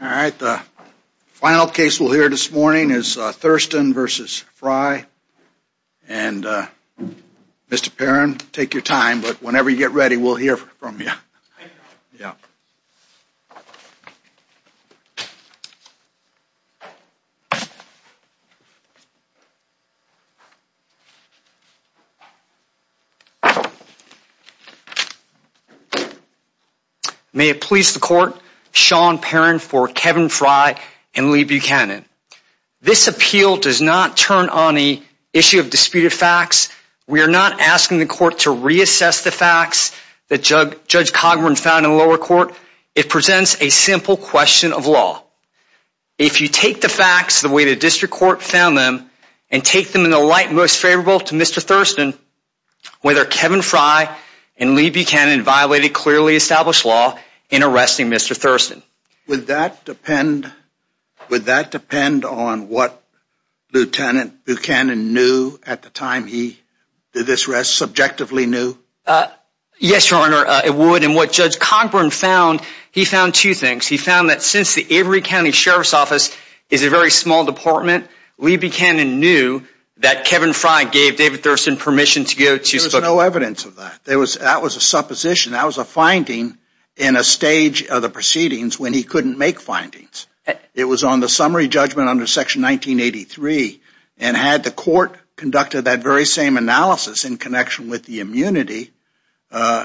All right, the final case we'll hear this morning is Thurston versus Frye and Mr. Perrin take your time, but whenever you get ready, we'll hear from you. Yeah May it please the court Sean Perrin for Kevin Frye and Lee Buchanan This appeal does not turn on the issue of disputed facts We are not asking the court to reassess the facts that judge judge Cogburn found in lower court It presents a simple question of law If you take the facts the way the district court found them and take them in the light most favorable to mr. Thurston Whether Kevin Frye and Lee Buchanan violated clearly established law in arresting mr. Thurston would that depend Would that depend on what? Lieutenant Buchanan knew at the time. He did this rest subjectively knew Yes, your honor. It would and what judge Cogburn found he found two things He found that since the Avery County Sheriff's Office is a very small department We began and knew that Kevin Frye gave David Thurston permission to go to so no evidence of that There was that was a supposition That was a finding in a stage of the proceedings when he couldn't make findings It was on the summary judgment under section 1983 and had the court conducted that very same analysis in connection with the immunity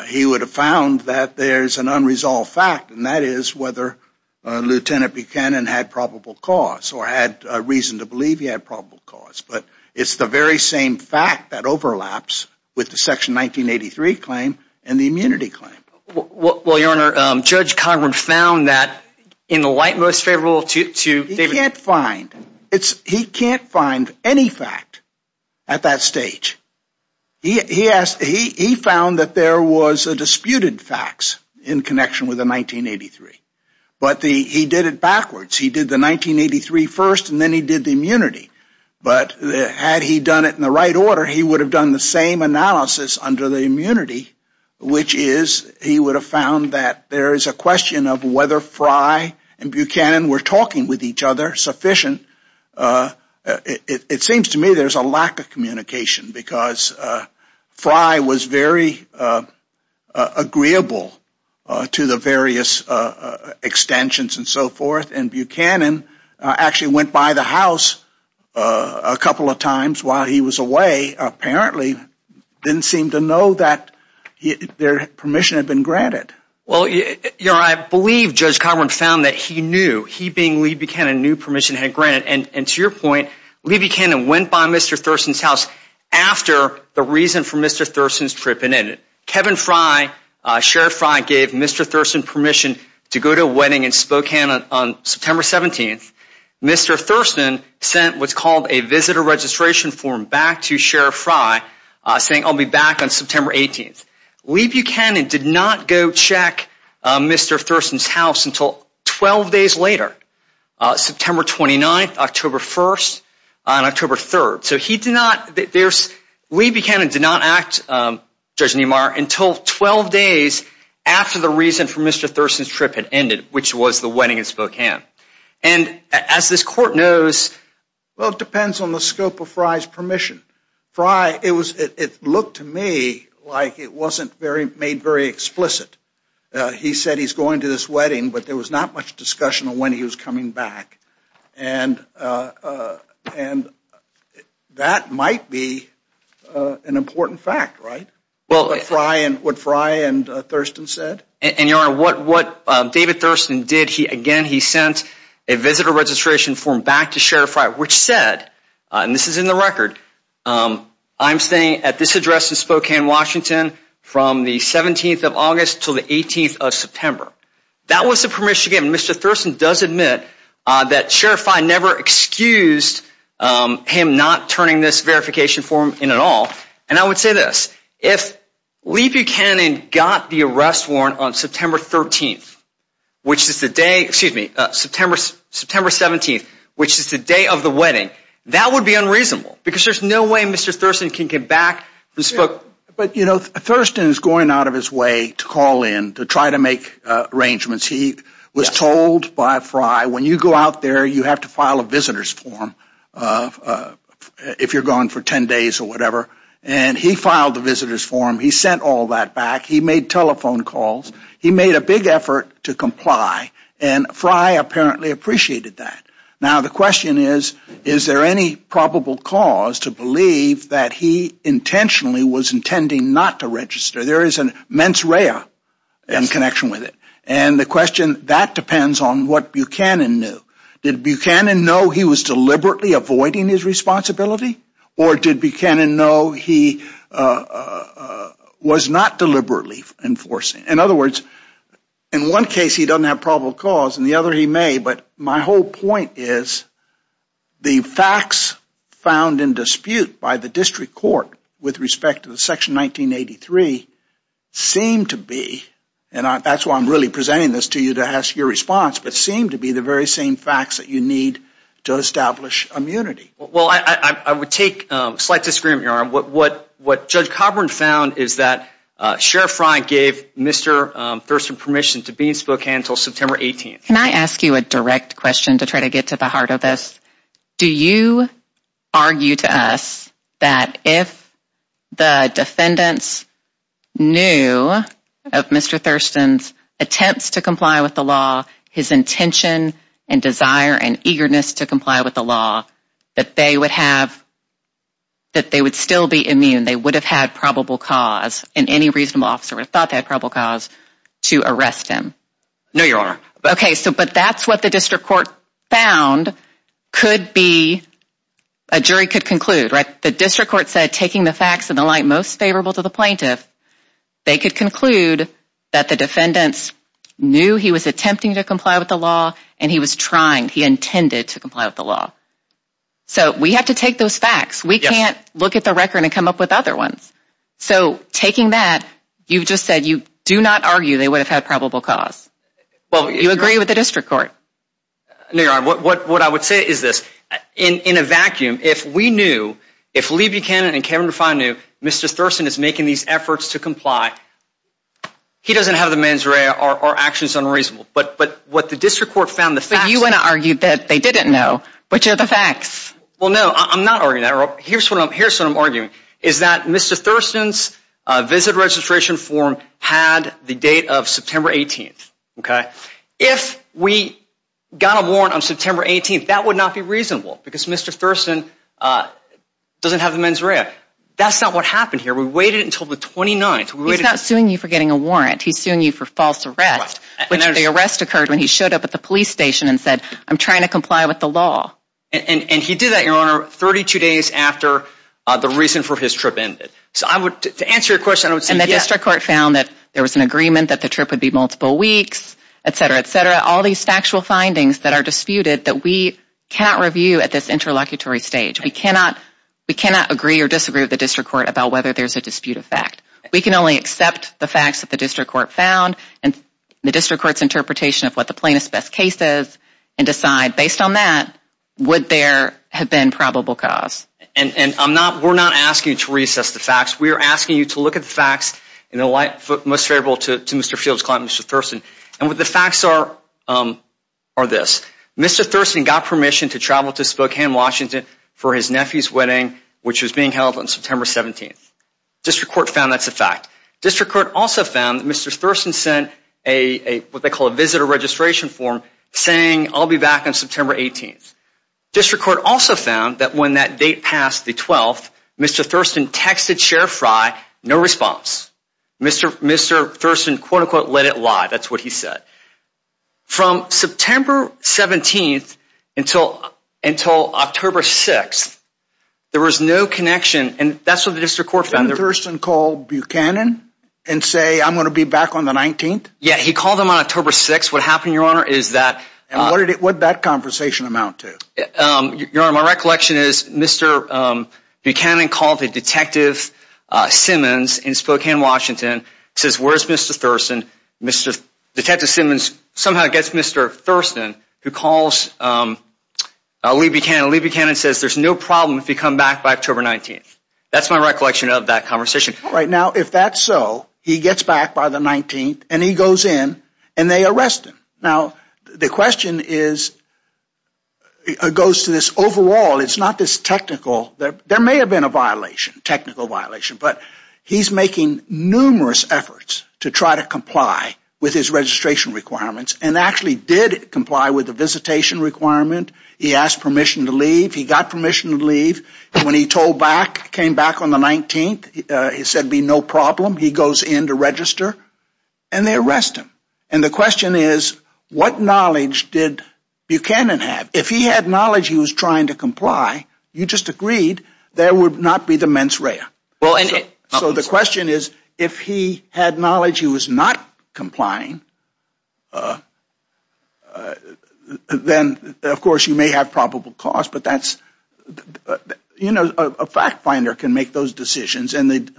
he would have found that there's an unresolved fact and that is whether Lieutenant Buchanan had probable cause or had a reason to believe he had probable cause but it's the very same fact that overlaps With the section 1983 claim and the immunity claim Well, your honor judge Cogburn found that in the light most favorable to David. He can't find it's he can't find any fact at that stage He asked he found that there was a disputed facts in connection with the 1983 But the he did it backwards he did the 1983 first and then he did the immunity But had he done it in the right order, he would have done the same analysis under the immunity Which is he would have found that there is a question of whether Frye and Buchanan were talking with each other sufficient it seems to me there's a lack of communication because Frye was very Agreeable to the various Extensions and so forth and Buchanan actually went by the house a couple of times while he was away Apparently didn't seem to know that Their permission had been granted. Well, you know, I believe judge Cogburn found that he knew he being Lee Buchanan Knew permission had granted and and to your point Lee Buchanan went by mr. Thurston's house After the reason for mr. Thurston's trip and in it Kevin Frye Sheriff Frye gave mr. Thurston permission to go to a wedding in Spokane on September 17th Mr. Thurston sent what's called a visitor registration form back to Sheriff Frye Saying I'll be back on September 18th. Lee Buchanan did not go check Mr. Thurston's house until 12 days later September 29th, October 1st October 3rd, so he did not that there's Lee Buchanan did not act Judge Niemeyer until 12 days after the reason for mr. Thurston's trip had ended which was the wedding in Spokane and as this court knows Well, it depends on the scope of Frye's permission Frye. It was it looked to me like it wasn't very made very explicit He said he's going to this wedding, but there was not much discussion on when he was coming back and And that might be An important fact right? Well, it's Ryan would fry and Thurston said and your honor What what David Thurston did he again? He sent a visitor registration form back to Sheriff Frye, which said and this is in the record I'm staying at this address in Spokane, Washington From the 17th of August till the 18th of September. That was the permission again. Mr. Thurston does admit that Sheriff I never excused him not turning this verification form in at all and I would say this if Lee Buchanan got the arrest warrant on September 13th Which is the day excuse me September September 17th The day of the wedding that would be unreasonable because there's no way mr. Thurston can get back this book But you know Thurston is going out of his way to call in to try to make Arrangements he was told by Frye when you go out there. You have to file a visitor's form If you're gone for 10 days or whatever and he filed the visitor's form he sent all that back he made telephone calls He made a big effort to comply and Frye apparently appreciated that Now the question is is there any probable cause to believe that he intentionally was intending not to register There is an mens rea in connection with it And the question that depends on what Buchanan knew. Did Buchanan know he was deliberately avoiding his responsibility or did Buchanan know he Was not deliberately Enforcing in other words in one case He doesn't have probable cause and the other he may but my whole point is The facts found in dispute by the district court with respect to the section 1983 Seem to be and that's why I'm really presenting this to you to ask your response But seem to be the very same facts that you need to establish immunity Well, I I would take slight disagreement your arm what what what judge Coburn found is that sheriff Ryan gave mr. Thurston permission to be in Spokane until September 18th. Can I ask you a direct question to try to get to the heart of this? Do you? argue to us that if the defendants knew of Mr. Thurston's attempts to comply with the law his intention and desire and eagerness to comply with the law that they would have That they would still be immune They would have had probable cause in any reasonable officer. We thought that probable cause to arrest him. No, you're okay So but that's what the district court found could be a Jury could conclude right the district court said taking the facts and the light most favorable to the plaintiff They could conclude that the defendants knew he was attempting to comply with the law and he was trying he intended to comply with the law So we have to take those facts we can't look at the record and come up with other ones So taking that you've just said you do not argue. They would have had probable cause Well, you agree with the district court No, you're what what I would say is this in in a vacuum if we knew if Lee Buchanan and Kevin to find new Mr. Thurston is making these efforts to comply He doesn't have the mens rea or actions unreasonable But but what the district court found the fact you want to argue that they didn't know which are the facts Well, no, I'm not arguing that here's what I'm here. So I'm arguing is that mr Thurston's visit registration form had the date of September 18th Okay, if we got a warrant on September 18th, that would not be reasonable because mr. Thurston Doesn't have the mens rea. That's not what happened here. We waited until the 29th. We're not suing you for getting a warrant He's suing you for false arrest But the arrest occurred when he showed up at the police station and said I'm trying to comply with the law And and he did that your honor 32 days after the reason for his trip ended So I would to answer your question I would say the district court found that there was an agreement that the trip would be multiple weeks Etc etc all these factual findings that are disputed that we cannot review at this interlocutory stage We cannot we cannot agree or disagree with the district court about whether there's a dispute of fact We can only accept the facts that the district court found and the district court's interpretation of what the plaintiff's best case is and decide based on that Would there have been probable cause and and I'm not we're not asking to reassess the facts We are asking you to look at the facts in the light foot most favorable to mr. Fields climate mr. Thurston and what the facts are Are this mr. Thurston got permission to travel to Spokane, Washington for his nephew's wedding Which was being held on September 17th district court found that's a fact district court also found mr. Thurston sent a What they call a visitor registration form saying I'll be back on September 18th District court also found that when that date passed the 12th mr. Thurston texted sheriff rye no response Mr. Mr. Thurston quote-unquote let it lie. That's what he said from September 17th until until October 6th There was no connection, and that's what the district court found the Thurston called Buchanan and say I'm gonna be back on the 19th Yeah, he called him on October 6 what happened your honor. Is that and what did it what that conversation amount to? Your honor my recollection is mr. Buchanan called the detective Simmons in Spokane, Washington says where's mr. Thurston mr. Detective Simmons somehow gets mr. Thurston who calls I'll leave Buchanan leave Buchanan says there's no problem if you come back by October 19th That's my recollection of that conversation right now if that's so he gets back by the 19th And he goes in and they arrest him now the question is Goes to this overall it's not this technical there may have been a violation technical violation But he's making numerous efforts to try to comply with his registration Requirements and actually did comply with the visitation requirement he asked permission to leave he got permission to leave When he told back came back on the 19th. He said be no problem He goes in to register, and they arrest him and the question is what knowledge did Buchanan? Have if he had knowledge he was trying to comply you just agreed there would not be the mens rea well And so the question is if he had knowledge he was not Complying Then of course you may have probable cause, but that's You know a fact-finder can make those decisions and they'd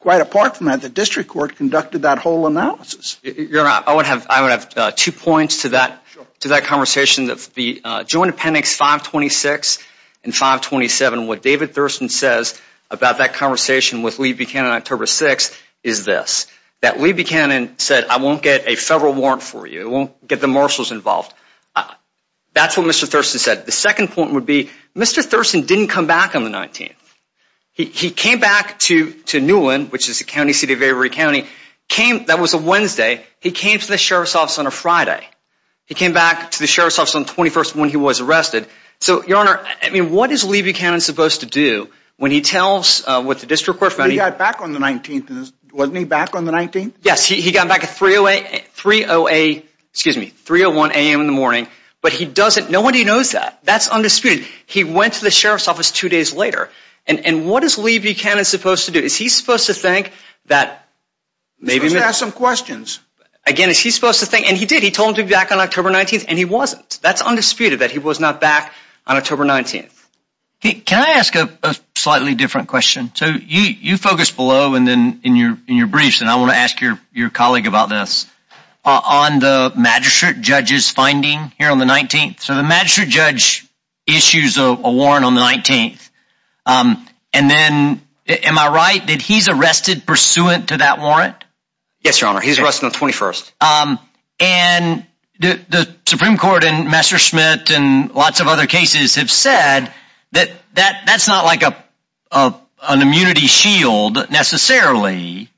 quite apart from at the district court conducted that whole analysis You're not I would have I would have two points to that to that conversation that's the joint appendix 526 and 527 what David Thurston says about that conversation with Lee Buchanan October 6 is That we Buchanan said I won't get a federal warrant for you won't get the marshals involved That's what mr. Thurston said the second point would be mr. Thurston didn't come back on the 19th He came back to to Newland which is the county city of every County came that was a Wednesday He came to the sheriff's office on a Friday. He came back to the sheriff's office on 21st when he was arrested so your honor I mean what is Lee Buchanan supposed to do when he tells what the district we're funny Back on the 19th wasn't he back on the 19th. Yes. He got back at 308 308 excuse me 301 a.m. In the morning, but he doesn't know what he knows that that's undisputed He went to the sheriff's office two days later, and and what is Lee Buchanan supposed to do is he's supposed to think that Maybe we have some questions again is he supposed to think and he did he told him to be back on October 19th And he wasn't that's undisputed that he was not back on October 19th Can I ask a slightly different question so you you focus below and then in your in your briefs And I want to ask your your colleague about this On the magistrate judges finding here on the 19th so the magistrate judge issues a warrant on the 19th And then am I right that he's arrested pursuant to that warrant. Yes, your honor. He's arrested on 21st and The Supreme Court and Messerschmitt and lots of other cases have said that that that's not like a immunity shield necessarily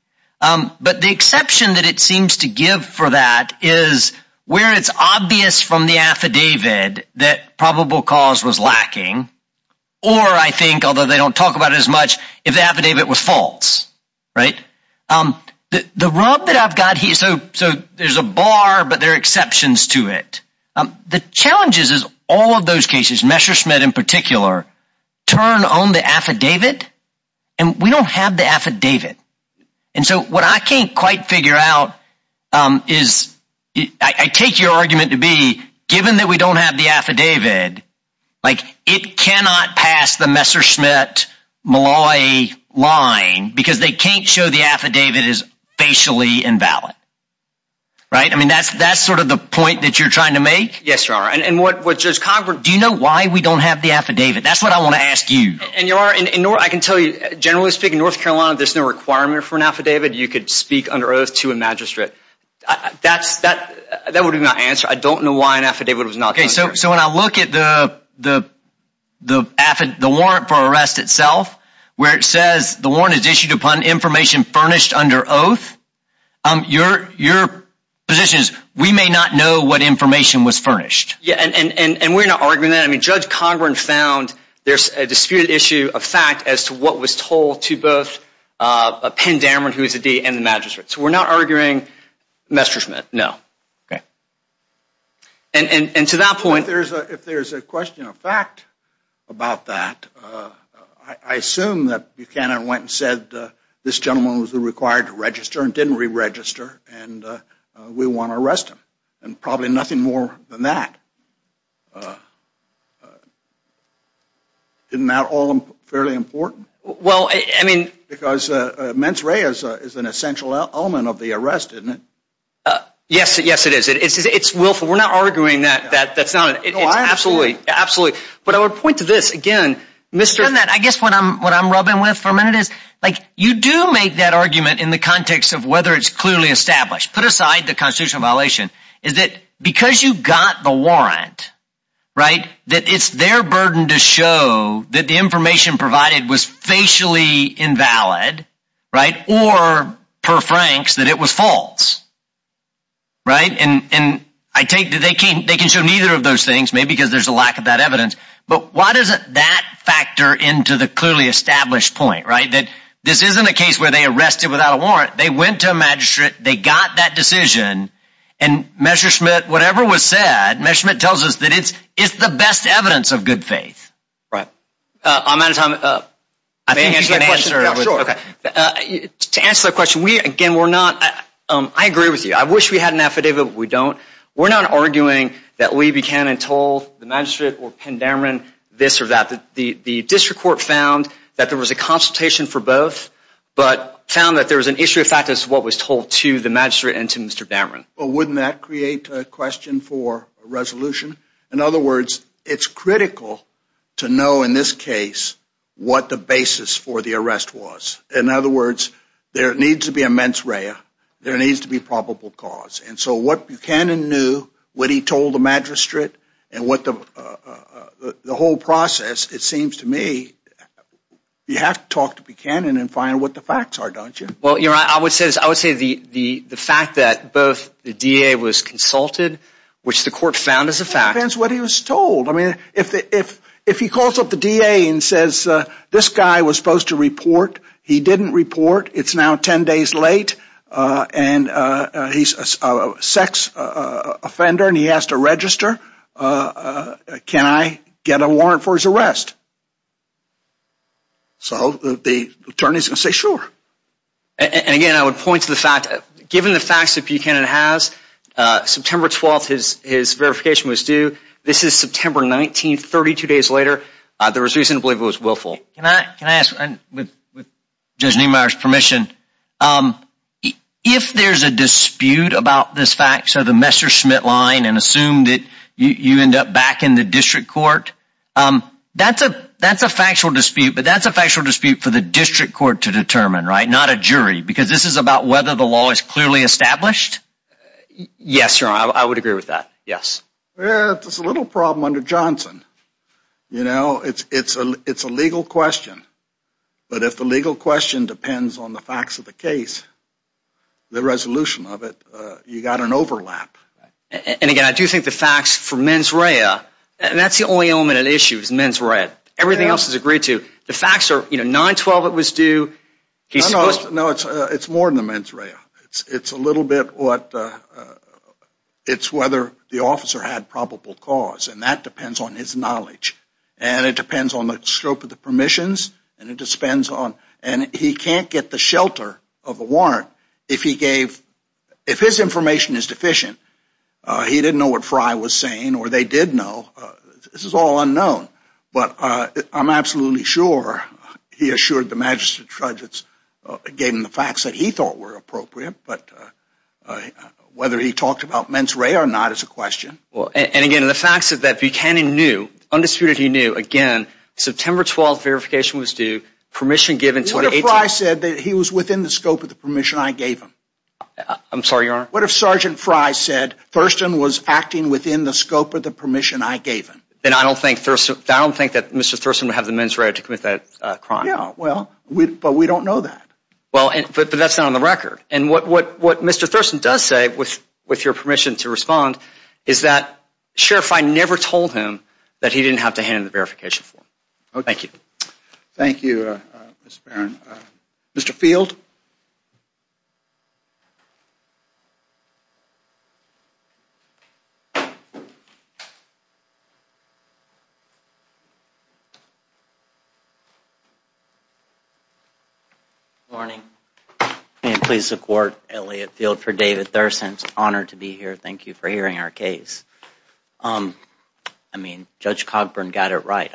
But the exception that it seems to give for that is where it's obvious from the affidavit That probable cause was lacking or I think although they don't talk about it as much if the affidavit was false Right The the rub that I've got here, so so there's a bar, but there are exceptions to it The challenges is all of those cases Messerschmitt in particular Turn on the affidavit, and we don't have the affidavit and so what I can't quite figure out is I Take your argument to be given that we don't have the affidavit Like it cannot pass the Messerschmitt Malloy line because they can't show the affidavit is facially invalid Right. I mean, that's that's sort of the point that you're trying to make. Yes, your honor And and what what does Congress do you know why we don't have the affidavit? That's what I want to ask you and you are in nor I can tell you generally speaking, North Carolina There's no requirement for an affidavit. You could speak under oath to a magistrate That's that that would be my answer. I don't know why an affidavit was not okay. So so when I look at the the Affidavit, the warrant for arrest itself where it says the warrant is issued upon information furnished under oath Your your position is we may not know what information was furnished. Yeah, and and and we're not arguing that I mean Judge Cogburn found there's a disputed issue of fact as to what was told to both Penn Dameron who is a D and the magistrate so we're not arguing Messerschmitt. No, okay And and and to that point there's a if there's a question of fact about that, I assume that Buchanan went and said this gentleman was the required to register and didn't re-register and We want to arrest him and probably nothing more than that Didn't that all them fairly important well, I mean because men's ray is is an essential element of the arrest, isn't it? Yes, yes, it is. It is. It's willful. We're not arguing that that that's not it Absolutely absolutely, but I would point to this again mr. And that I guess when I'm what I'm rubbing with for a minute is like you do make that argument in the context of whether It's clearly established put aside the constitutional violation is that because you got the warrant Right that it's their burden to show that the information provided was facially invalid Right or per Frank's that it was false Right and and I take that they can't they can show neither of those things maybe because there's a lack of that evidence But why does it that factor into the clearly established point right that this isn't a case where they arrested without a warrant? they went to a magistrate they got that decision and Messerschmitt whatever was said measurement tells us that it's it's the best evidence of good faith, right? I'm out of time Okay To answer the question we again. We're not I agree with you. I wish we had an affidavit We don't we're not arguing that we began and told the magistrate or pen dameron This or that the the district court found that there was a consultation for both But found that there was an issue of fact is what was told to the magistrate and to mr. Dameron, but wouldn't that create a question for a resolution in other words? It's critical to know in this case What the basis for the arrest was in other words there needs to be a mens rea there needs to be probable cause and so what Buchanan knew what he told the magistrate and what the The whole process it seems to me You have to talk to Buchanan and find what the facts are don't you well you're I would say this I would say the the the fact that both the DA was consulted Which the court found as a fact that's what he was told I mean if if if he calls up the DA and says this guy was supposed to report he didn't report It's now ten days late and He's a sex Offender and he has to register Can I get a warrant for his arrest? So the attorneys and say sure And again, I would point to the fact given the facts that Buchanan has September 12th his his verification was due. This is September 19th 32 days later. There was reason to believe it was willful Can I can I ask with? Judge Niemeyer's permission If there's a dispute about this fact so the Messerschmitt line and assume that you end up back in the district court That's a that's a factual dispute But that's a factual dispute for the district court to determine right not a jury because this is about whether the law is clearly established Yes, sir, I would agree with that yes, there's a little problem under Johnson You know it's it's a it's a legal question But if the legal question depends on the facts of the case The resolution of it you got an overlap And again, I do think the facts for mens rea and that's the only element at issues mens read Everything else is agreed to the facts are you know 912 it was due No, it's it's more than the mens rea, it's it's a little bit what it's whether the officer had probable cause and that depends on his knowledge and It depends on the scope of the permissions And it just spends on and he can't get the shelter of a warrant if he gave if his information is deficient He didn't know what Frye was saying or they did know this is all unknown, but I'm absolutely sure He assured the magistrate judge it's gave him the facts that he thought were appropriate, but Whether he talked about mens rea or not as a question well, and again the facts of that Buchanan knew Undisputed he knew again September 12th verification was due permission given so I said that he was within the scope of the permission I gave him I'm sorry your what if sergeant Frye said Thurston was acting within the scope of the permission Then I don't think Thurston I don't think that mr. Thurston would have the mens rea to commit that crime Yeah, well we but we don't know that well, but that's not on the record and what what what mr. Thurston does say with with your permission to respond is that Sheriff I never told him that he didn't have to hand the verification for oh, thank you Thank you Mr.. Field You Morning Please support Elliot field for David Thurston's honor to be here. Thank you for hearing our case I mean judge Cogburn got it right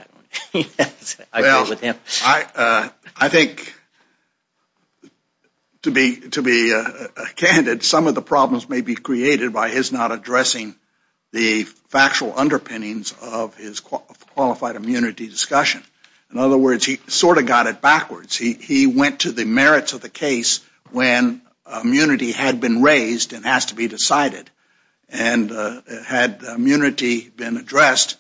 I think To be to be Candid some of the problems may be created by his not addressing the factual underpinnings of his Qualified immunity discussion in other words. He sort of got it backwards. He went to the merits of the case when immunity had been raised and has to be decided and Had immunity been addressed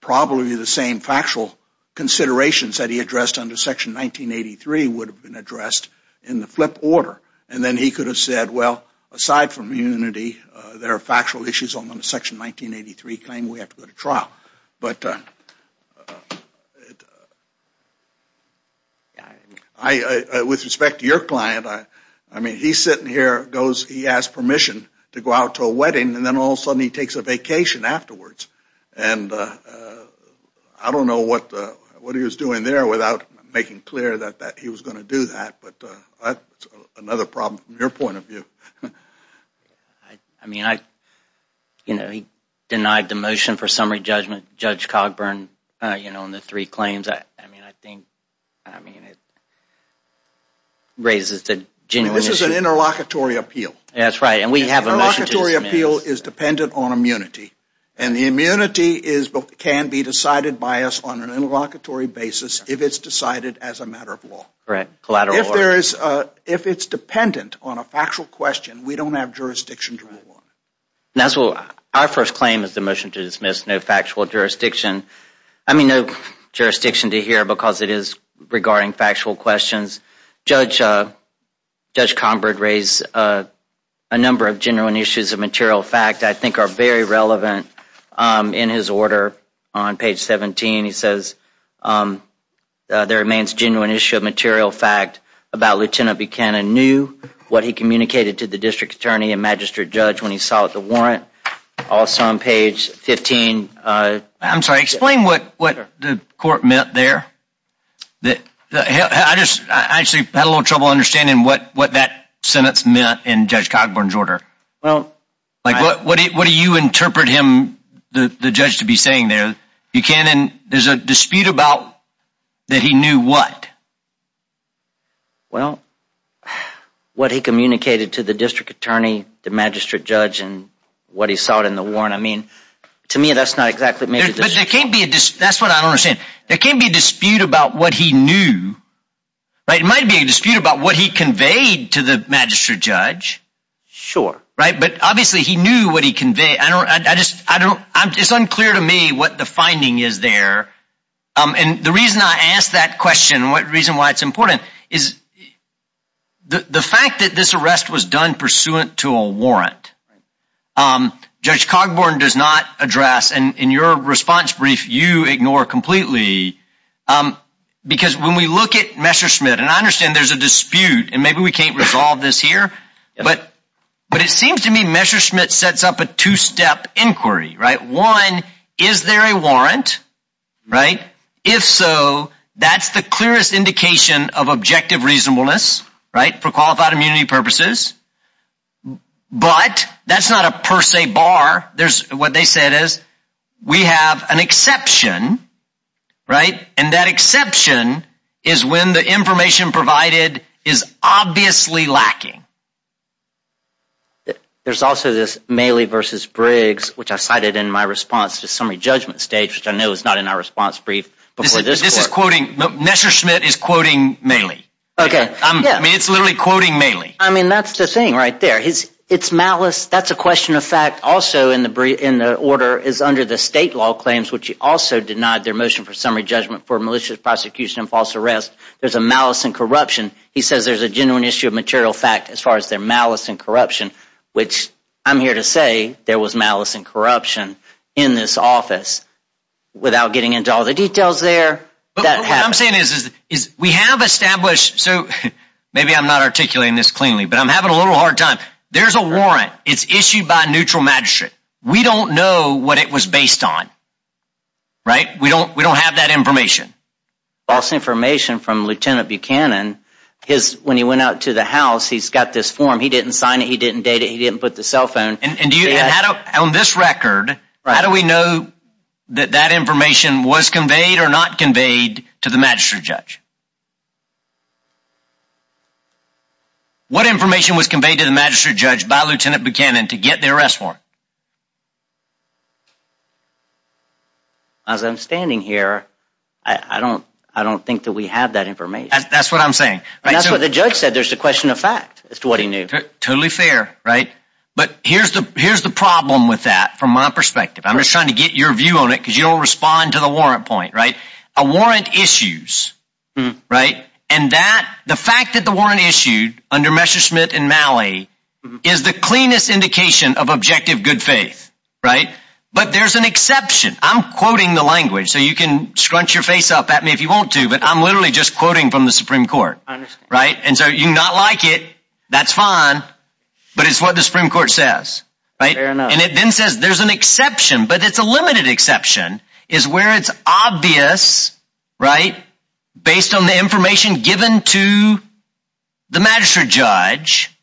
Probably the same factual Considerations that he addressed under section 1983 would have been addressed in the flip order And then he could have said well aside from unity there are factual issues on the section 1983 claim we have to go to trial, but I With respect to your client I I mean he's sitting here goes he has permission to go out to a wedding and then all sudden he takes a vacation afterwards and I Don't know what what he was doing there without making clear that that he was going to do that, but another problem your point of view I Mean I You know he denied the motion for summary judgment judge Cogburn. You know in the three claims. I mean I think I mean it Raises the genuine this is an interlocutory appeal That's right Appeal is dependent on immunity and the immunity is but can be decided by us on an interlocutory Basis if it's decided as a matter of law correct collateral if there is if it's dependent on a factual question We don't have jurisdiction That's what our first claim is the motion to dismiss no factual jurisdiction I mean no jurisdiction to hear because it is regarding factual questions judge Judge Combert raised a Number of genuine issues of material fact I think are very relevant in his order on page 17 he says There remains genuine issue of material fact about lieutenant Buchanan knew What he communicated to the district attorney and magistrate judge when he saw it the warrant also on page 15 I'm sorry explain what what the court meant there That I just actually had a little trouble understanding what what that sentence meant in judge Cogburn's order well Like what what do you interpret him the judge to be saying there you can and there's a dispute about That he knew what? Well What he communicated to the district attorney the magistrate judge and what he saw it in the warrant I mean to me that's not exactly me That's what I don't understand there can't be a dispute about what he knew Right it might be a dispute about what he conveyed to the magistrate judge Sure right, but obviously he knew what he conveyed I don't I just I don't I'm just unclear to me what the finding is there and the reason I asked that question what reason why it's important is The the fact that this arrest was done pursuant to a warrant Um judge Cogburn does not address and in your response brief you ignore completely Because when we look at Messerschmidt, and I understand there's a dispute and maybe we can't resolve this here But but it seems to me Messerschmidt sets up a two-step inquiry right one is there a warrant? Right if so, that's the clearest indication of objective reasonableness right for qualified immunity purposes But that's not a per se bar. There's what they said is we have an exception Right and that exception is when the information provided is obviously lacking There's also this Maley versus Briggs Which I cited in my response to summary judgment stage which I know is not in our response brief But this is quoting Messerschmidt is quoting Maley, okay? I mean, it's literally quoting Maley. I mean, that's the thing right there. He's it's malice That's a question of fact also in the brief in the order is under the state law claims Which he also denied their motion for summary judgment for malicious prosecution and false arrest. There's a malice and corruption He says there's a genuine issue of material fact as far as their malice and corruption Which I'm here to say there was malice and corruption in this office Without getting into all the details there I'm saying is is we have established so maybe I'm not articulating this cleanly, but I'm having a little hard time There's a warrant. It's issued by neutral magistrate. We don't know what it was based on Right we don't we don't have that information False information from lieutenant Buchanan his when he went out to the house. He's got this form. He didn't sign it He didn't date it. He didn't put the cell phone and do you know how to own this record? How do we know that that information was conveyed or not conveyed to the magistrate judge What information was conveyed to the magistrate judge by lieutenant Buchanan to get the arrest warrant As I'm standing here, I Don't I don't think that we have that information. That's what I'm saying That's what the judge said there's a question of fact as to what he knew totally fair, right? But here's the here's the problem with that from my perspective I'm just trying to get your view on it because you don't respond to the warrant point right a warrant issues Right and that the fact that the warrant issued under Messerschmitt in Maui is the cleanest indication of objective good faith Right, but there's an exception I'm quoting the language so you can scrunch your face up at me if you want to but I'm literally just quoting from the Supreme Court right and so you not like it. That's fine But it's what the Supreme Court says right and it then says there's an exception, but it's a limited exception is where it's obvious right based on the information given to the magistrate judge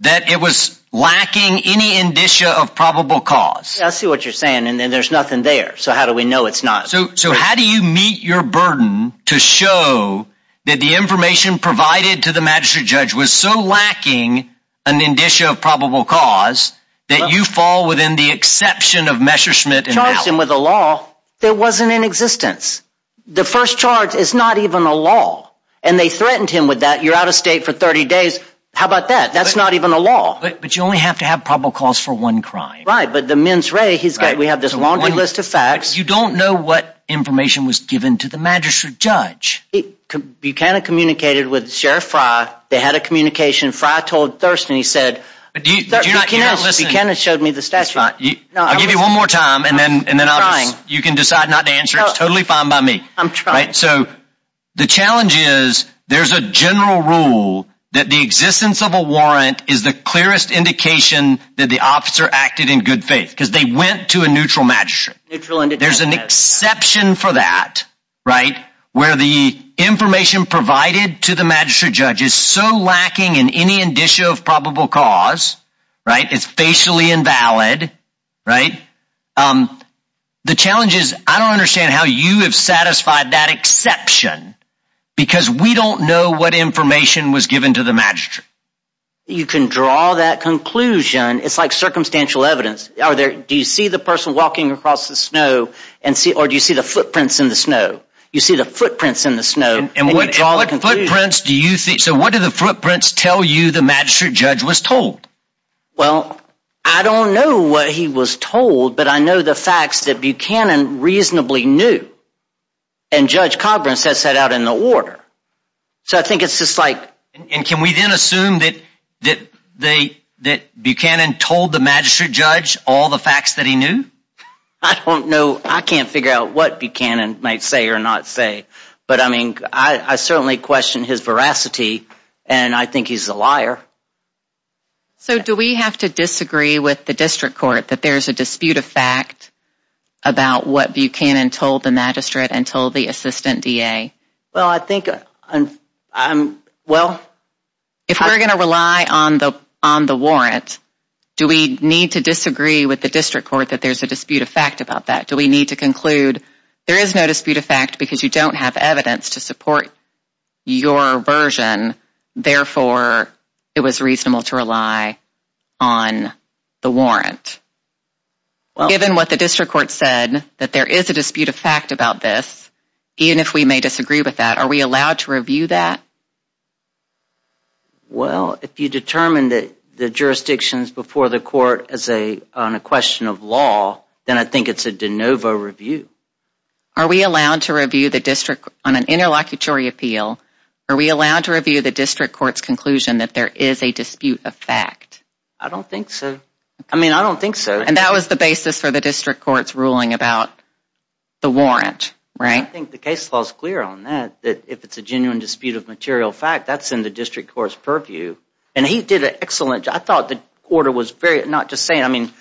That it was lacking any indicia of probable cause I see what you're saying, and then there's nothing there So how do we know it's not so so how do you meet your burden to show? That the information provided to the magistrate judge was so lacking an Indicia of probable cause that you fall within the exception of Messerschmitt and charged him with a law that wasn't in existence The first charge is not even a law and they threatened him with that you're out of state for 30 days How about that? That's not even a law, but you only have to have probable cause for one crime right, but the mens rea He's got we have this long list of facts. You don't know what information was given to the magistrate judge Buchanan communicated with Sheriff Frye they had a communication Frye told Thurston he said He kind of showed me the statue I'll give you one more time, and then and then I'm you can decide not to answer. It's totally fine by me I'm trying so the challenge is there's a general rule that the existence of a warrant is the clearest Indication that the officer acted in good faith because they went to a neutral match There's an exception for that Right where the information provided to the magistrate judge is so lacking in any indicia of probable cause Right, it's facially invalid right The challenge is I don't understand how you have satisfied that exception Because we don't know what information was given to the magistrate You can draw that conclusion It's like circumstantial evidence are there Do you see the person walking across the snow and see or do you see the footprints in the snow you see the footprints in? The snow and what all the footprints do you think so what do the footprints tell you the magistrate judge was told? well, I don't know what he was told, but I know the facts that Buchanan reasonably knew and Judge Coburn sets that out in the order so I think it's just like and can we then assume that that they that Buchanan told the magistrate judge all the facts that he knew I Don't know. I can't figure out what Buchanan might say or not say, but I mean I certainly question his veracity And I think he's a liar So do we have to disagree with the district court that there's a dispute of fact About what Buchanan told the magistrate and told the assistant DA well, I think I'm well If we're gonna rely on the on the warrant Do we need to disagree with the district court that there's a dispute of fact about that do we need to conclude? There is no dispute of fact because you don't have evidence to support your version Therefore it was reasonable to rely on the warrant Given what the district court said that there is a dispute of fact about this Even if we may disagree with that are we allowed to review that? Well if you determine that the jurisdictions before the court as a on a question of law Then I think it's a de novo review Are we allowed to review the district on an interlocutory appeal? Are we allowed to review the district courts conclusion that there is a dispute of fact? I don't think so. I mean, I don't think so and that was the basis for the district courts ruling about The warrant right I think the case laws clear on that that if it's a genuine dispute of material fact That's in the district courts purview and he did it excellent I thought the order was very not just saying I mean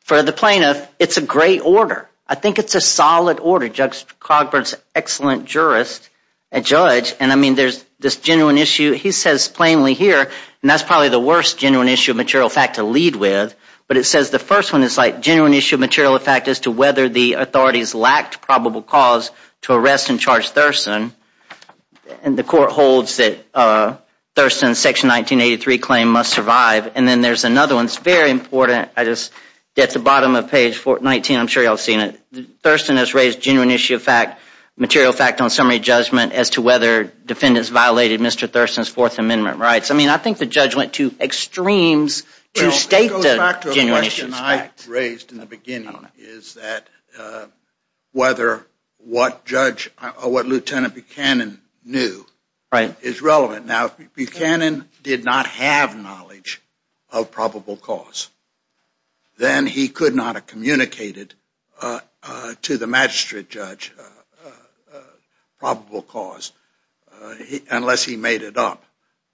for the plaintiff. It's a great order I think it's a solid order judge Cogburn's excellent jurist and judge and I mean there's this genuine issue He says plainly here and that's probably the worst genuine issue of material fact to lead with But it says the first one is like genuine issue of material effect as to whether the authorities lacked probable cause to arrest and charge Thurston and the court holds that Thurston section 1983 claim must survive and then there's another one. It's very important I just get the bottom of page 419 I'm sure y'all seen it Thurston has raised genuine issue of fact material fact on summary judgment as to whether Defendants violated mr. Thurston's Fourth Amendment rights. I mean, I think the judge went to extremes To state the genuine issues raised in the beginning is that whether what judge or what lieutenant Buchanan knew right is relevant now Buchanan did not have knowledge of probable cause Then he could not have communicated to the magistrate judge Probable cause Unless he made it up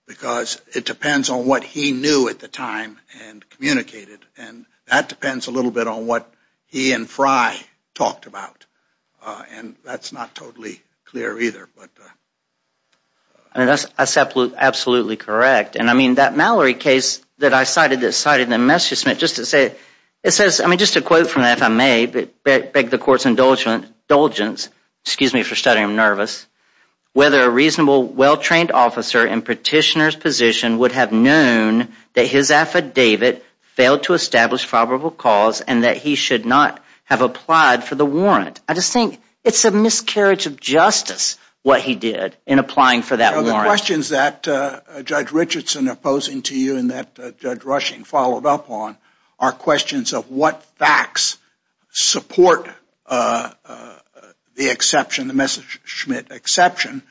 because it depends on what he knew at the time and Communicated and that depends a little bit on what he and Frye talked about And that's not totally clear either. But I Mean, that's absolute absolutely correct And I mean that Mallory case that I cited that cited the Messerschmitt just to say it says I mean just a quote from that if I may but beg the court's indulgent indulgence, excuse me for studying nervous Whether a reasonable well-trained officer in petitioner's position would have known that his affidavit Failed to establish probable cause and that he should not have applied for the warrant I just think it's a miscarriage of justice what he did in applying for that questions that Judge Richardson opposing to you and that judge rushing followed up on our questions of what facts support The exception the Messerschmitt exception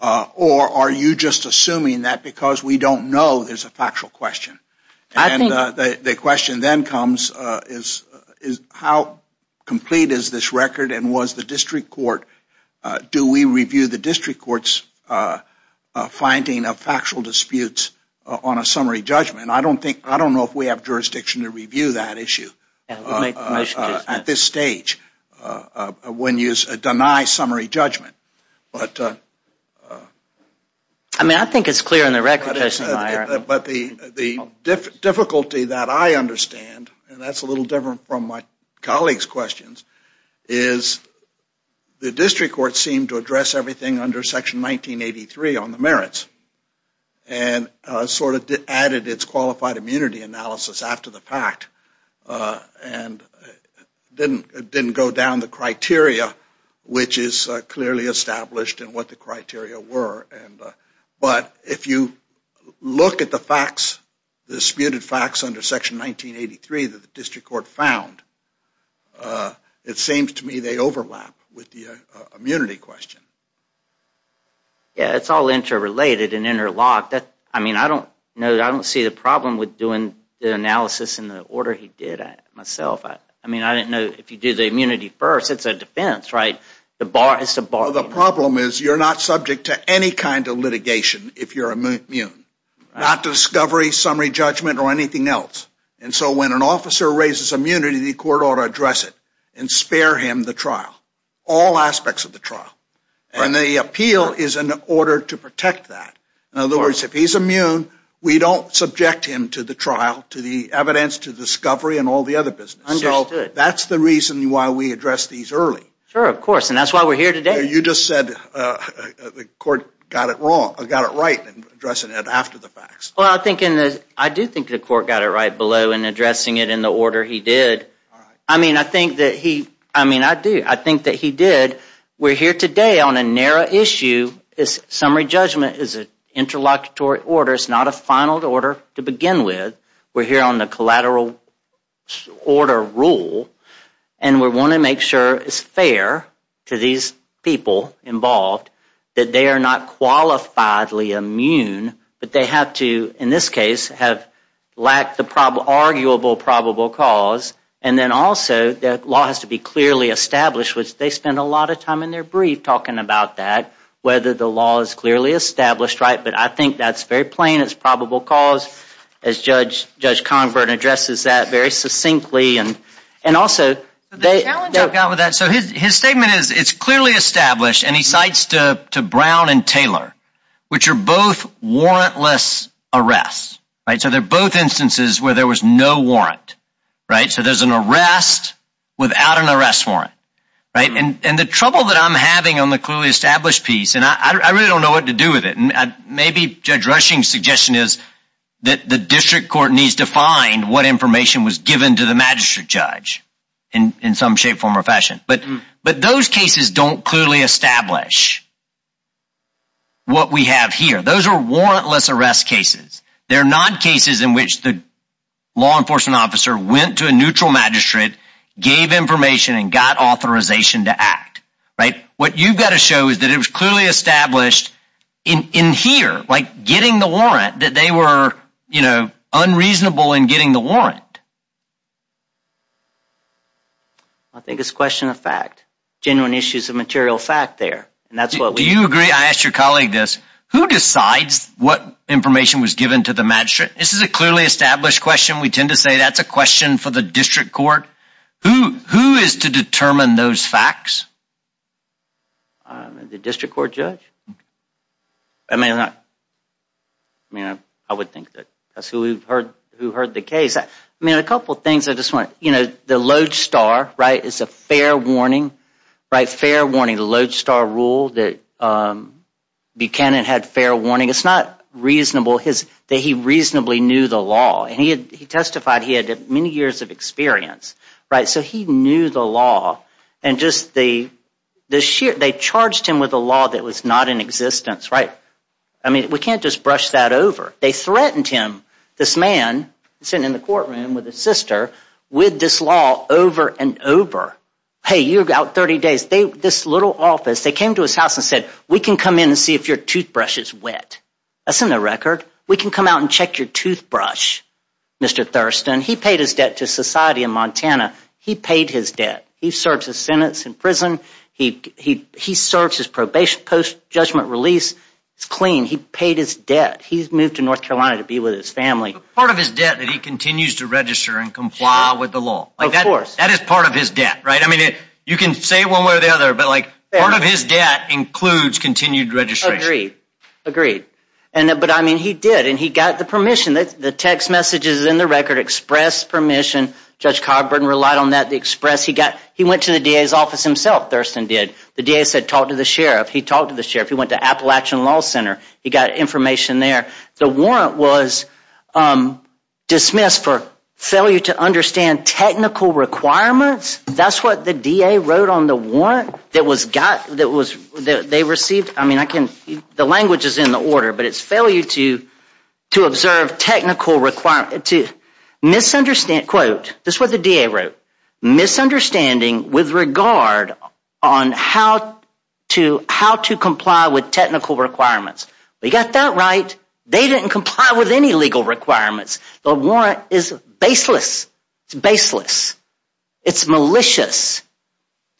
Or are you just assuming that because we don't know there's a factual question I think the question then comes is is how Complete is this record and was the district court? Do we review the district courts? Finding of factual disputes on a summary judgment. I don't think I don't know if we have jurisdiction to review that issue At this stage when you deny summary judgment, but I Mean I think it's clear in the record but the the difficulty that I understand and that's a little different from my colleagues questions is the district court seemed to address everything under section 1983 on the merits and Sort of added its qualified immunity analysis after the fact And Didn't didn't go down the criteria which is clearly established and what the criteria were and but if you Look at the facts the disputed facts under section 1983 that the district court found It seems to me they overlap with the immunity question Yeah, it's all interrelated and interlocked that I mean I don't know that I don't see the problem with doing the analysis in the order He did myself. I mean I didn't know if you do the immunity first. It's a defense right the bar It's a bar the problem is you're not subject to any kind of litigation if you're immune not discovery summary judgment or anything else and so when an officer raises immunity the court ought to address it and Spare him the trial all aspects of the trial and the appeal is an order to protect that in other words if he's immune We don't subject him to the trial to the evidence to discovery and all the other business I know that's the reason why we address these early sure of course, and that's why we're here today. You just said The court got it wrong. I've got it right and dressing it after the facts Well, I think in this I do think the court got it right below and addressing it in the order He did I mean, I think that he I mean I do I think that he did We're here today on a narrow issue is summary judgment is an interlocutory order It's not a final order to begin with we're here on the collateral order rule and We want to make sure it's fair to these people involved that they are not Qualifiedly immune, but they have to in this case have lacked the problem arguable probable cause And then also that law has to be clearly established Which they spend a lot of time in their brief talking about that whether the law is clearly established right? But I think that's very plain. It's probable cause as judge judge Convert addresses that very succinctly and and also His statement is it's clearly established and he cites to to Brown and Taylor which are both Warrantless arrests right so they're both instances where there was no warrant right so there's an arrest Without an arrest warrant right and and the trouble that I'm having on the clearly established piece And I really don't know what to do with it And maybe judge rushing suggestion is that the district court needs to find what information was given to the magistrate judge And in some shape form or fashion, but but those cases don't clearly establish What we have here those are warrantless arrest cases they're not cases in which the Law enforcement officer went to a neutral magistrate gave information and got authorization to act right what you've got to show Is that it was clearly established in in here like getting the warrant that they were you know? unreasonable in getting the warrant I Think it's question of fact genuine issues of material fact there, and that's what we you agree I asked your colleague this who decides what information was given to the magistrate. This is a clearly established question We tend to say that's a question for the district court who who is to determine those facts I mean the district court judge I mean I I Mean I I would think that that's who we've heard who heard the case I mean a couple things. I just want you know the lodestar right. It's a fair warning right fair warning the lodestar rule that Buchanan had fair warning It's not reasonable his that he reasonably knew the law and he had he testified he had many years of experience Right so he knew the law and just the This year they charged him with a law that was not in existence, right? I mean we can't just brush that over they threatened him this man Sitting in the courtroom with his sister with this law over and over hey you got 30 days They this little office they came to his house and said we can come in and see if your toothbrush is wet That's in the record we can come out and check your toothbrush Mr.. Thurston he paid his debt to society in Montana. He paid his debt. He serves his sentence in prison He he he serves his probation post-judgment release. It's clean. He paid his debt He's moved to North Carolina to be with his family part of his debt that he continues to register and comply with the law Like that of course that is part of his debt, right? I mean it you can say one way or the other but like part of his debt includes continued registry agreed And but I mean he did and he got the permission that the text messages in the record expressed permission Judge Coburn relied on that the express he got he went to the DA's office himself Thurston did the DA said talk to the sheriff He talked to the sheriff. He went to Appalachian Law Center. He got information there the warrant was Dismissed for failure to understand technical requirements That's what the DA wrote on the warrant that was got that was they received I mean I can the language is in the order, but it's failure to to observe technical requirement to Misunderstand quote this was the DA wrote misunderstanding with regard on how to How to comply with technical requirements, but you got that right they didn't comply with any legal requirements The warrant is baseless baseless It's malicious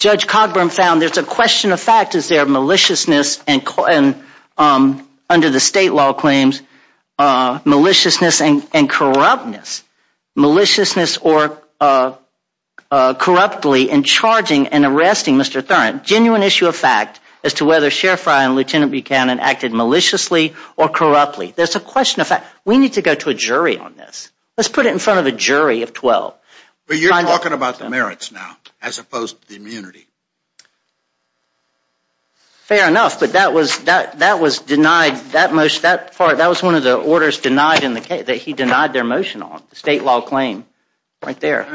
Judge Coburn found there's a question of fact is there maliciousness and Under the state law claims maliciousness and corruptness maliciousness or Corruptly in charging and arresting mr. Thurman genuine issue of fact as to whether sheriff Ryan lieutenant Buchanan acted maliciously or corruptly There's a question of fact we need to go to a jury on this Let's put it in front of a jury of 12, but you're talking about the merits now as opposed to the immunity Fair enough, but that was that that was denied that most that part That was one of the orders denied in the case that he denied their motion on the state law claim right there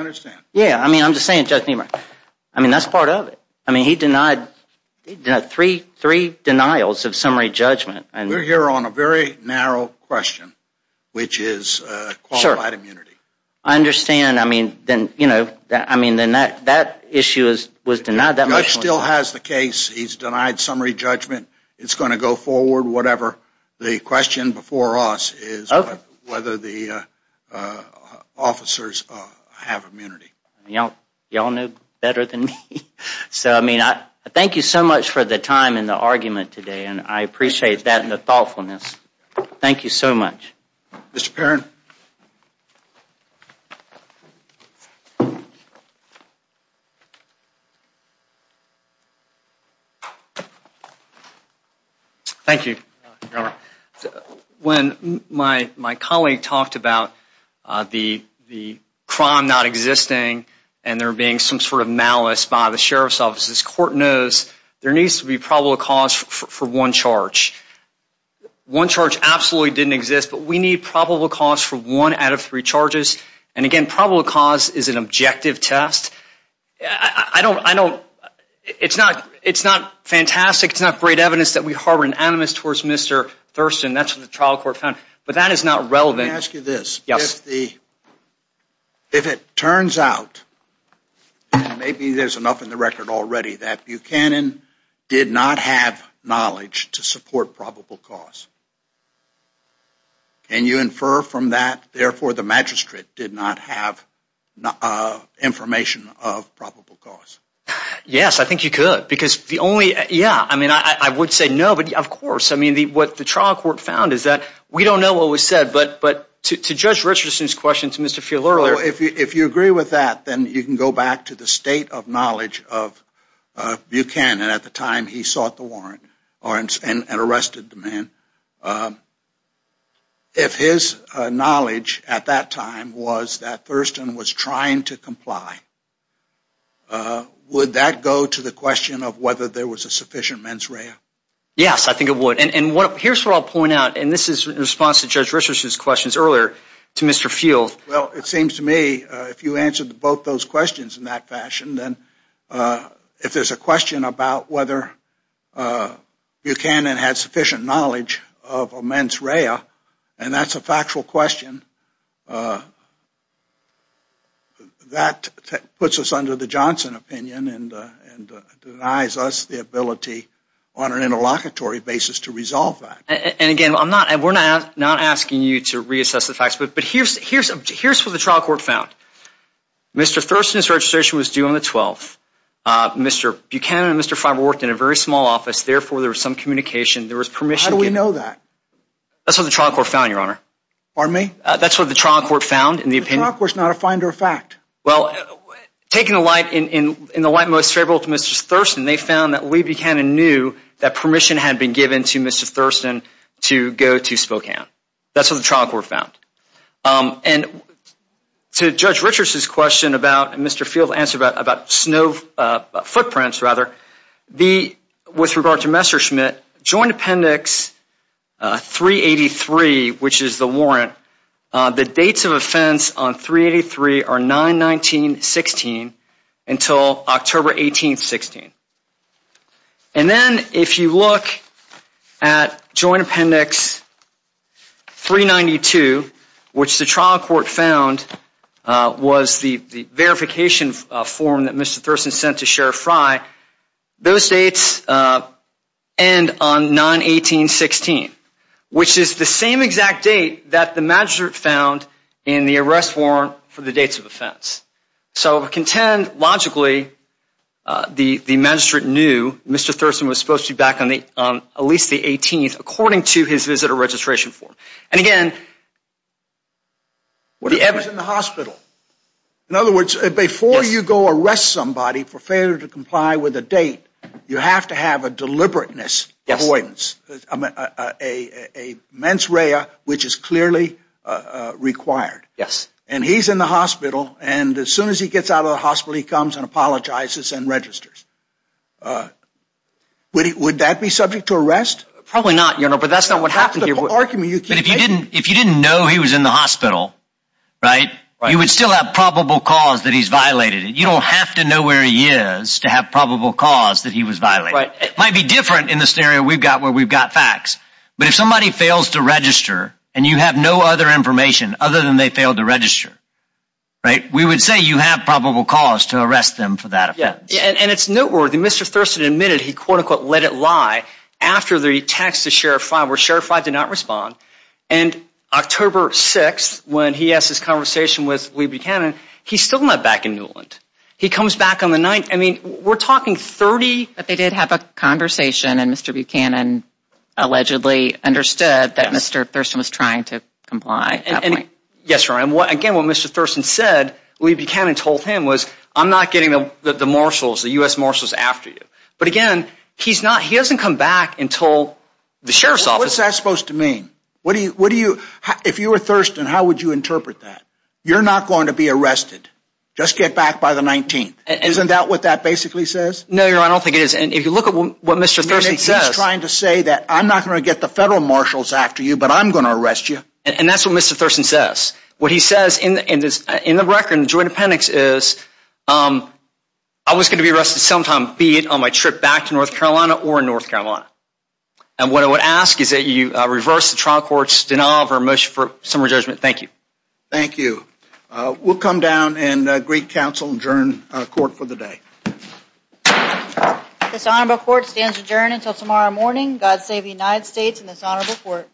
Yeah, I mean, I'm just saying to me mark. I mean that's part of it. I mean he denied three three denials of summary judgment, and we're here on a very narrow question which is I Understand I mean then you know that I mean then that that issue is was denied that much still has the case He's denied summary judgment. It's going to go forward. Whatever the question before us is whether the Officers have immunity you know y'all know better than me So I mean I thank you so much for the time in the argument today, and I appreciate that in the thoughtfulness Thank you so much Mr.. Perrin Thank you When my my colleague talked about The the crime not existing and there being some sort of malice by the sheriff's offices court knows There needs to be probable cause for one charge One charge absolutely didn't exist But we need probable cause for one out of three charges and again probable cause is an objective test. I Don't I know It's not it's not fantastic. It's not great evidence that we harbor an animus towards mr.. Thurston That's what the trial court found, but that is not relevant ask you this yes the if it turns out Maybe there's enough in the record already that Buchanan did not have knowledge to support probable cause And you infer from that therefore the magistrate did not have Information of probable cause Yes, I think you could because the only yeah, I mean I would say nobody of course I mean the what the trial court found is that we don't know what was said, but but to judge Richardson's question to mr. Fielder if you if you agree with that, then you can go back to the state of knowledge of Buchanan at the time he sought the warrant or and arrested the man If his knowledge at that time was that Thurston was trying to comply Would that go to the question of whether there was a sufficient mens rea Yes, I think it would and what here's what I'll point out, and this is in response to judge Richardson's questions earlier to mr. Field well it seems to me if you answered both those questions in that fashion, then if there's a question about whether You can and had sufficient knowledge of a mens rea, and that's a factual question That puts us under the Johnson opinion and Denies us the ability on an interlocutory basis to resolve that and again I'm not and we're not not asking you to reassess the facts, but but here's here's here's what the trial court found Mr.. Thurston his registration was due on the 12th Mr.. Buchanan mr. Fiber worked in a very small office therefore there was some communication there was permission we know that That's what the trial court found your honor army. That's what the trial court found in the opinion was not a finder of fact well Taking a light in in in the white most favorable to mr. Thurston they found that we be kind of knew that permission had been given to mr. Thurston to go to Spokane That's what the trial court found To judge Richardson's question about mr.. Field answer about about snow Footprints rather the with regard to Messerschmitt joint appendix 383 which is the warrant the dates of offense on 383 are 9 19 16 until October 18 16 and then if you look at joint appendix 392 which the trial court found Was the verification form that mr.. Thurston sent to sheriff rye? those dates and on 918-16 which is the same exact date that the magistrate found in the arrest warrant for the dates of offense So contend logically The the magistrate knew mr. Thurston was supposed to be back on the on at least the 18th according to his visitor registration form and again What do you have it in the hospital In other words before you go arrest somebody for failure to comply with a date you have to have a deliberateness avoidance a mens rea which is clearly Required yes, and he's in the hospital and as soon as he gets out of the hospital he comes and apologizes and registers Would he would that be subject to arrest probably not you know, but that's not what happened You're arguing you can if you didn't if you didn't know he was in the hospital Right you would still have probable cause that he's violated You don't have to know where he is to have probable cause that he was violent right it might be different in this area We've got where we've got facts But if somebody fails to register, and you have no other information other than they failed to register Right we would say you have probable cause to arrest them for that yeah, and it's noteworthy mr. Thurston admitted he quote-unquote let it lie after the text to sheriff I were sure if I did not respond and October 6 when he asked his conversation with we Buchanan. He's still not back in Newland He comes back on the night. I mean we're talking 30, but they did have a conversation and mr. Buchanan Allegedly understood that mr. Thurston was trying to comply and yes, right and what again what mr. Thurston said we Buchanan told him was I'm not getting the the marshals the US marshals after you but again He's not he doesn't come back until the sheriff's office. That's supposed to mean What do you what do you if you were thirst and how would you interpret that you're not going to be arrested? Just get back by the 19th isn't that what that basically says no you're I don't think it is and if you look at what? Mr.. Thurston says trying to say that I'm not going to get the federal marshals after you, but I'm going to arrest you And that's what mr. Thurston says what he says in in this in the record and joint appendix is I was going to be arrested sometime be it on my trip back to North Carolina or in North Carolina And what I would ask is that you reverse the trial court's denial of her motion for summary judgment. Thank you. Thank you We'll come down and Greek Council adjourn court for the day This honorable court stands adjourned until tomorrow morning. God save the United States in this honorable court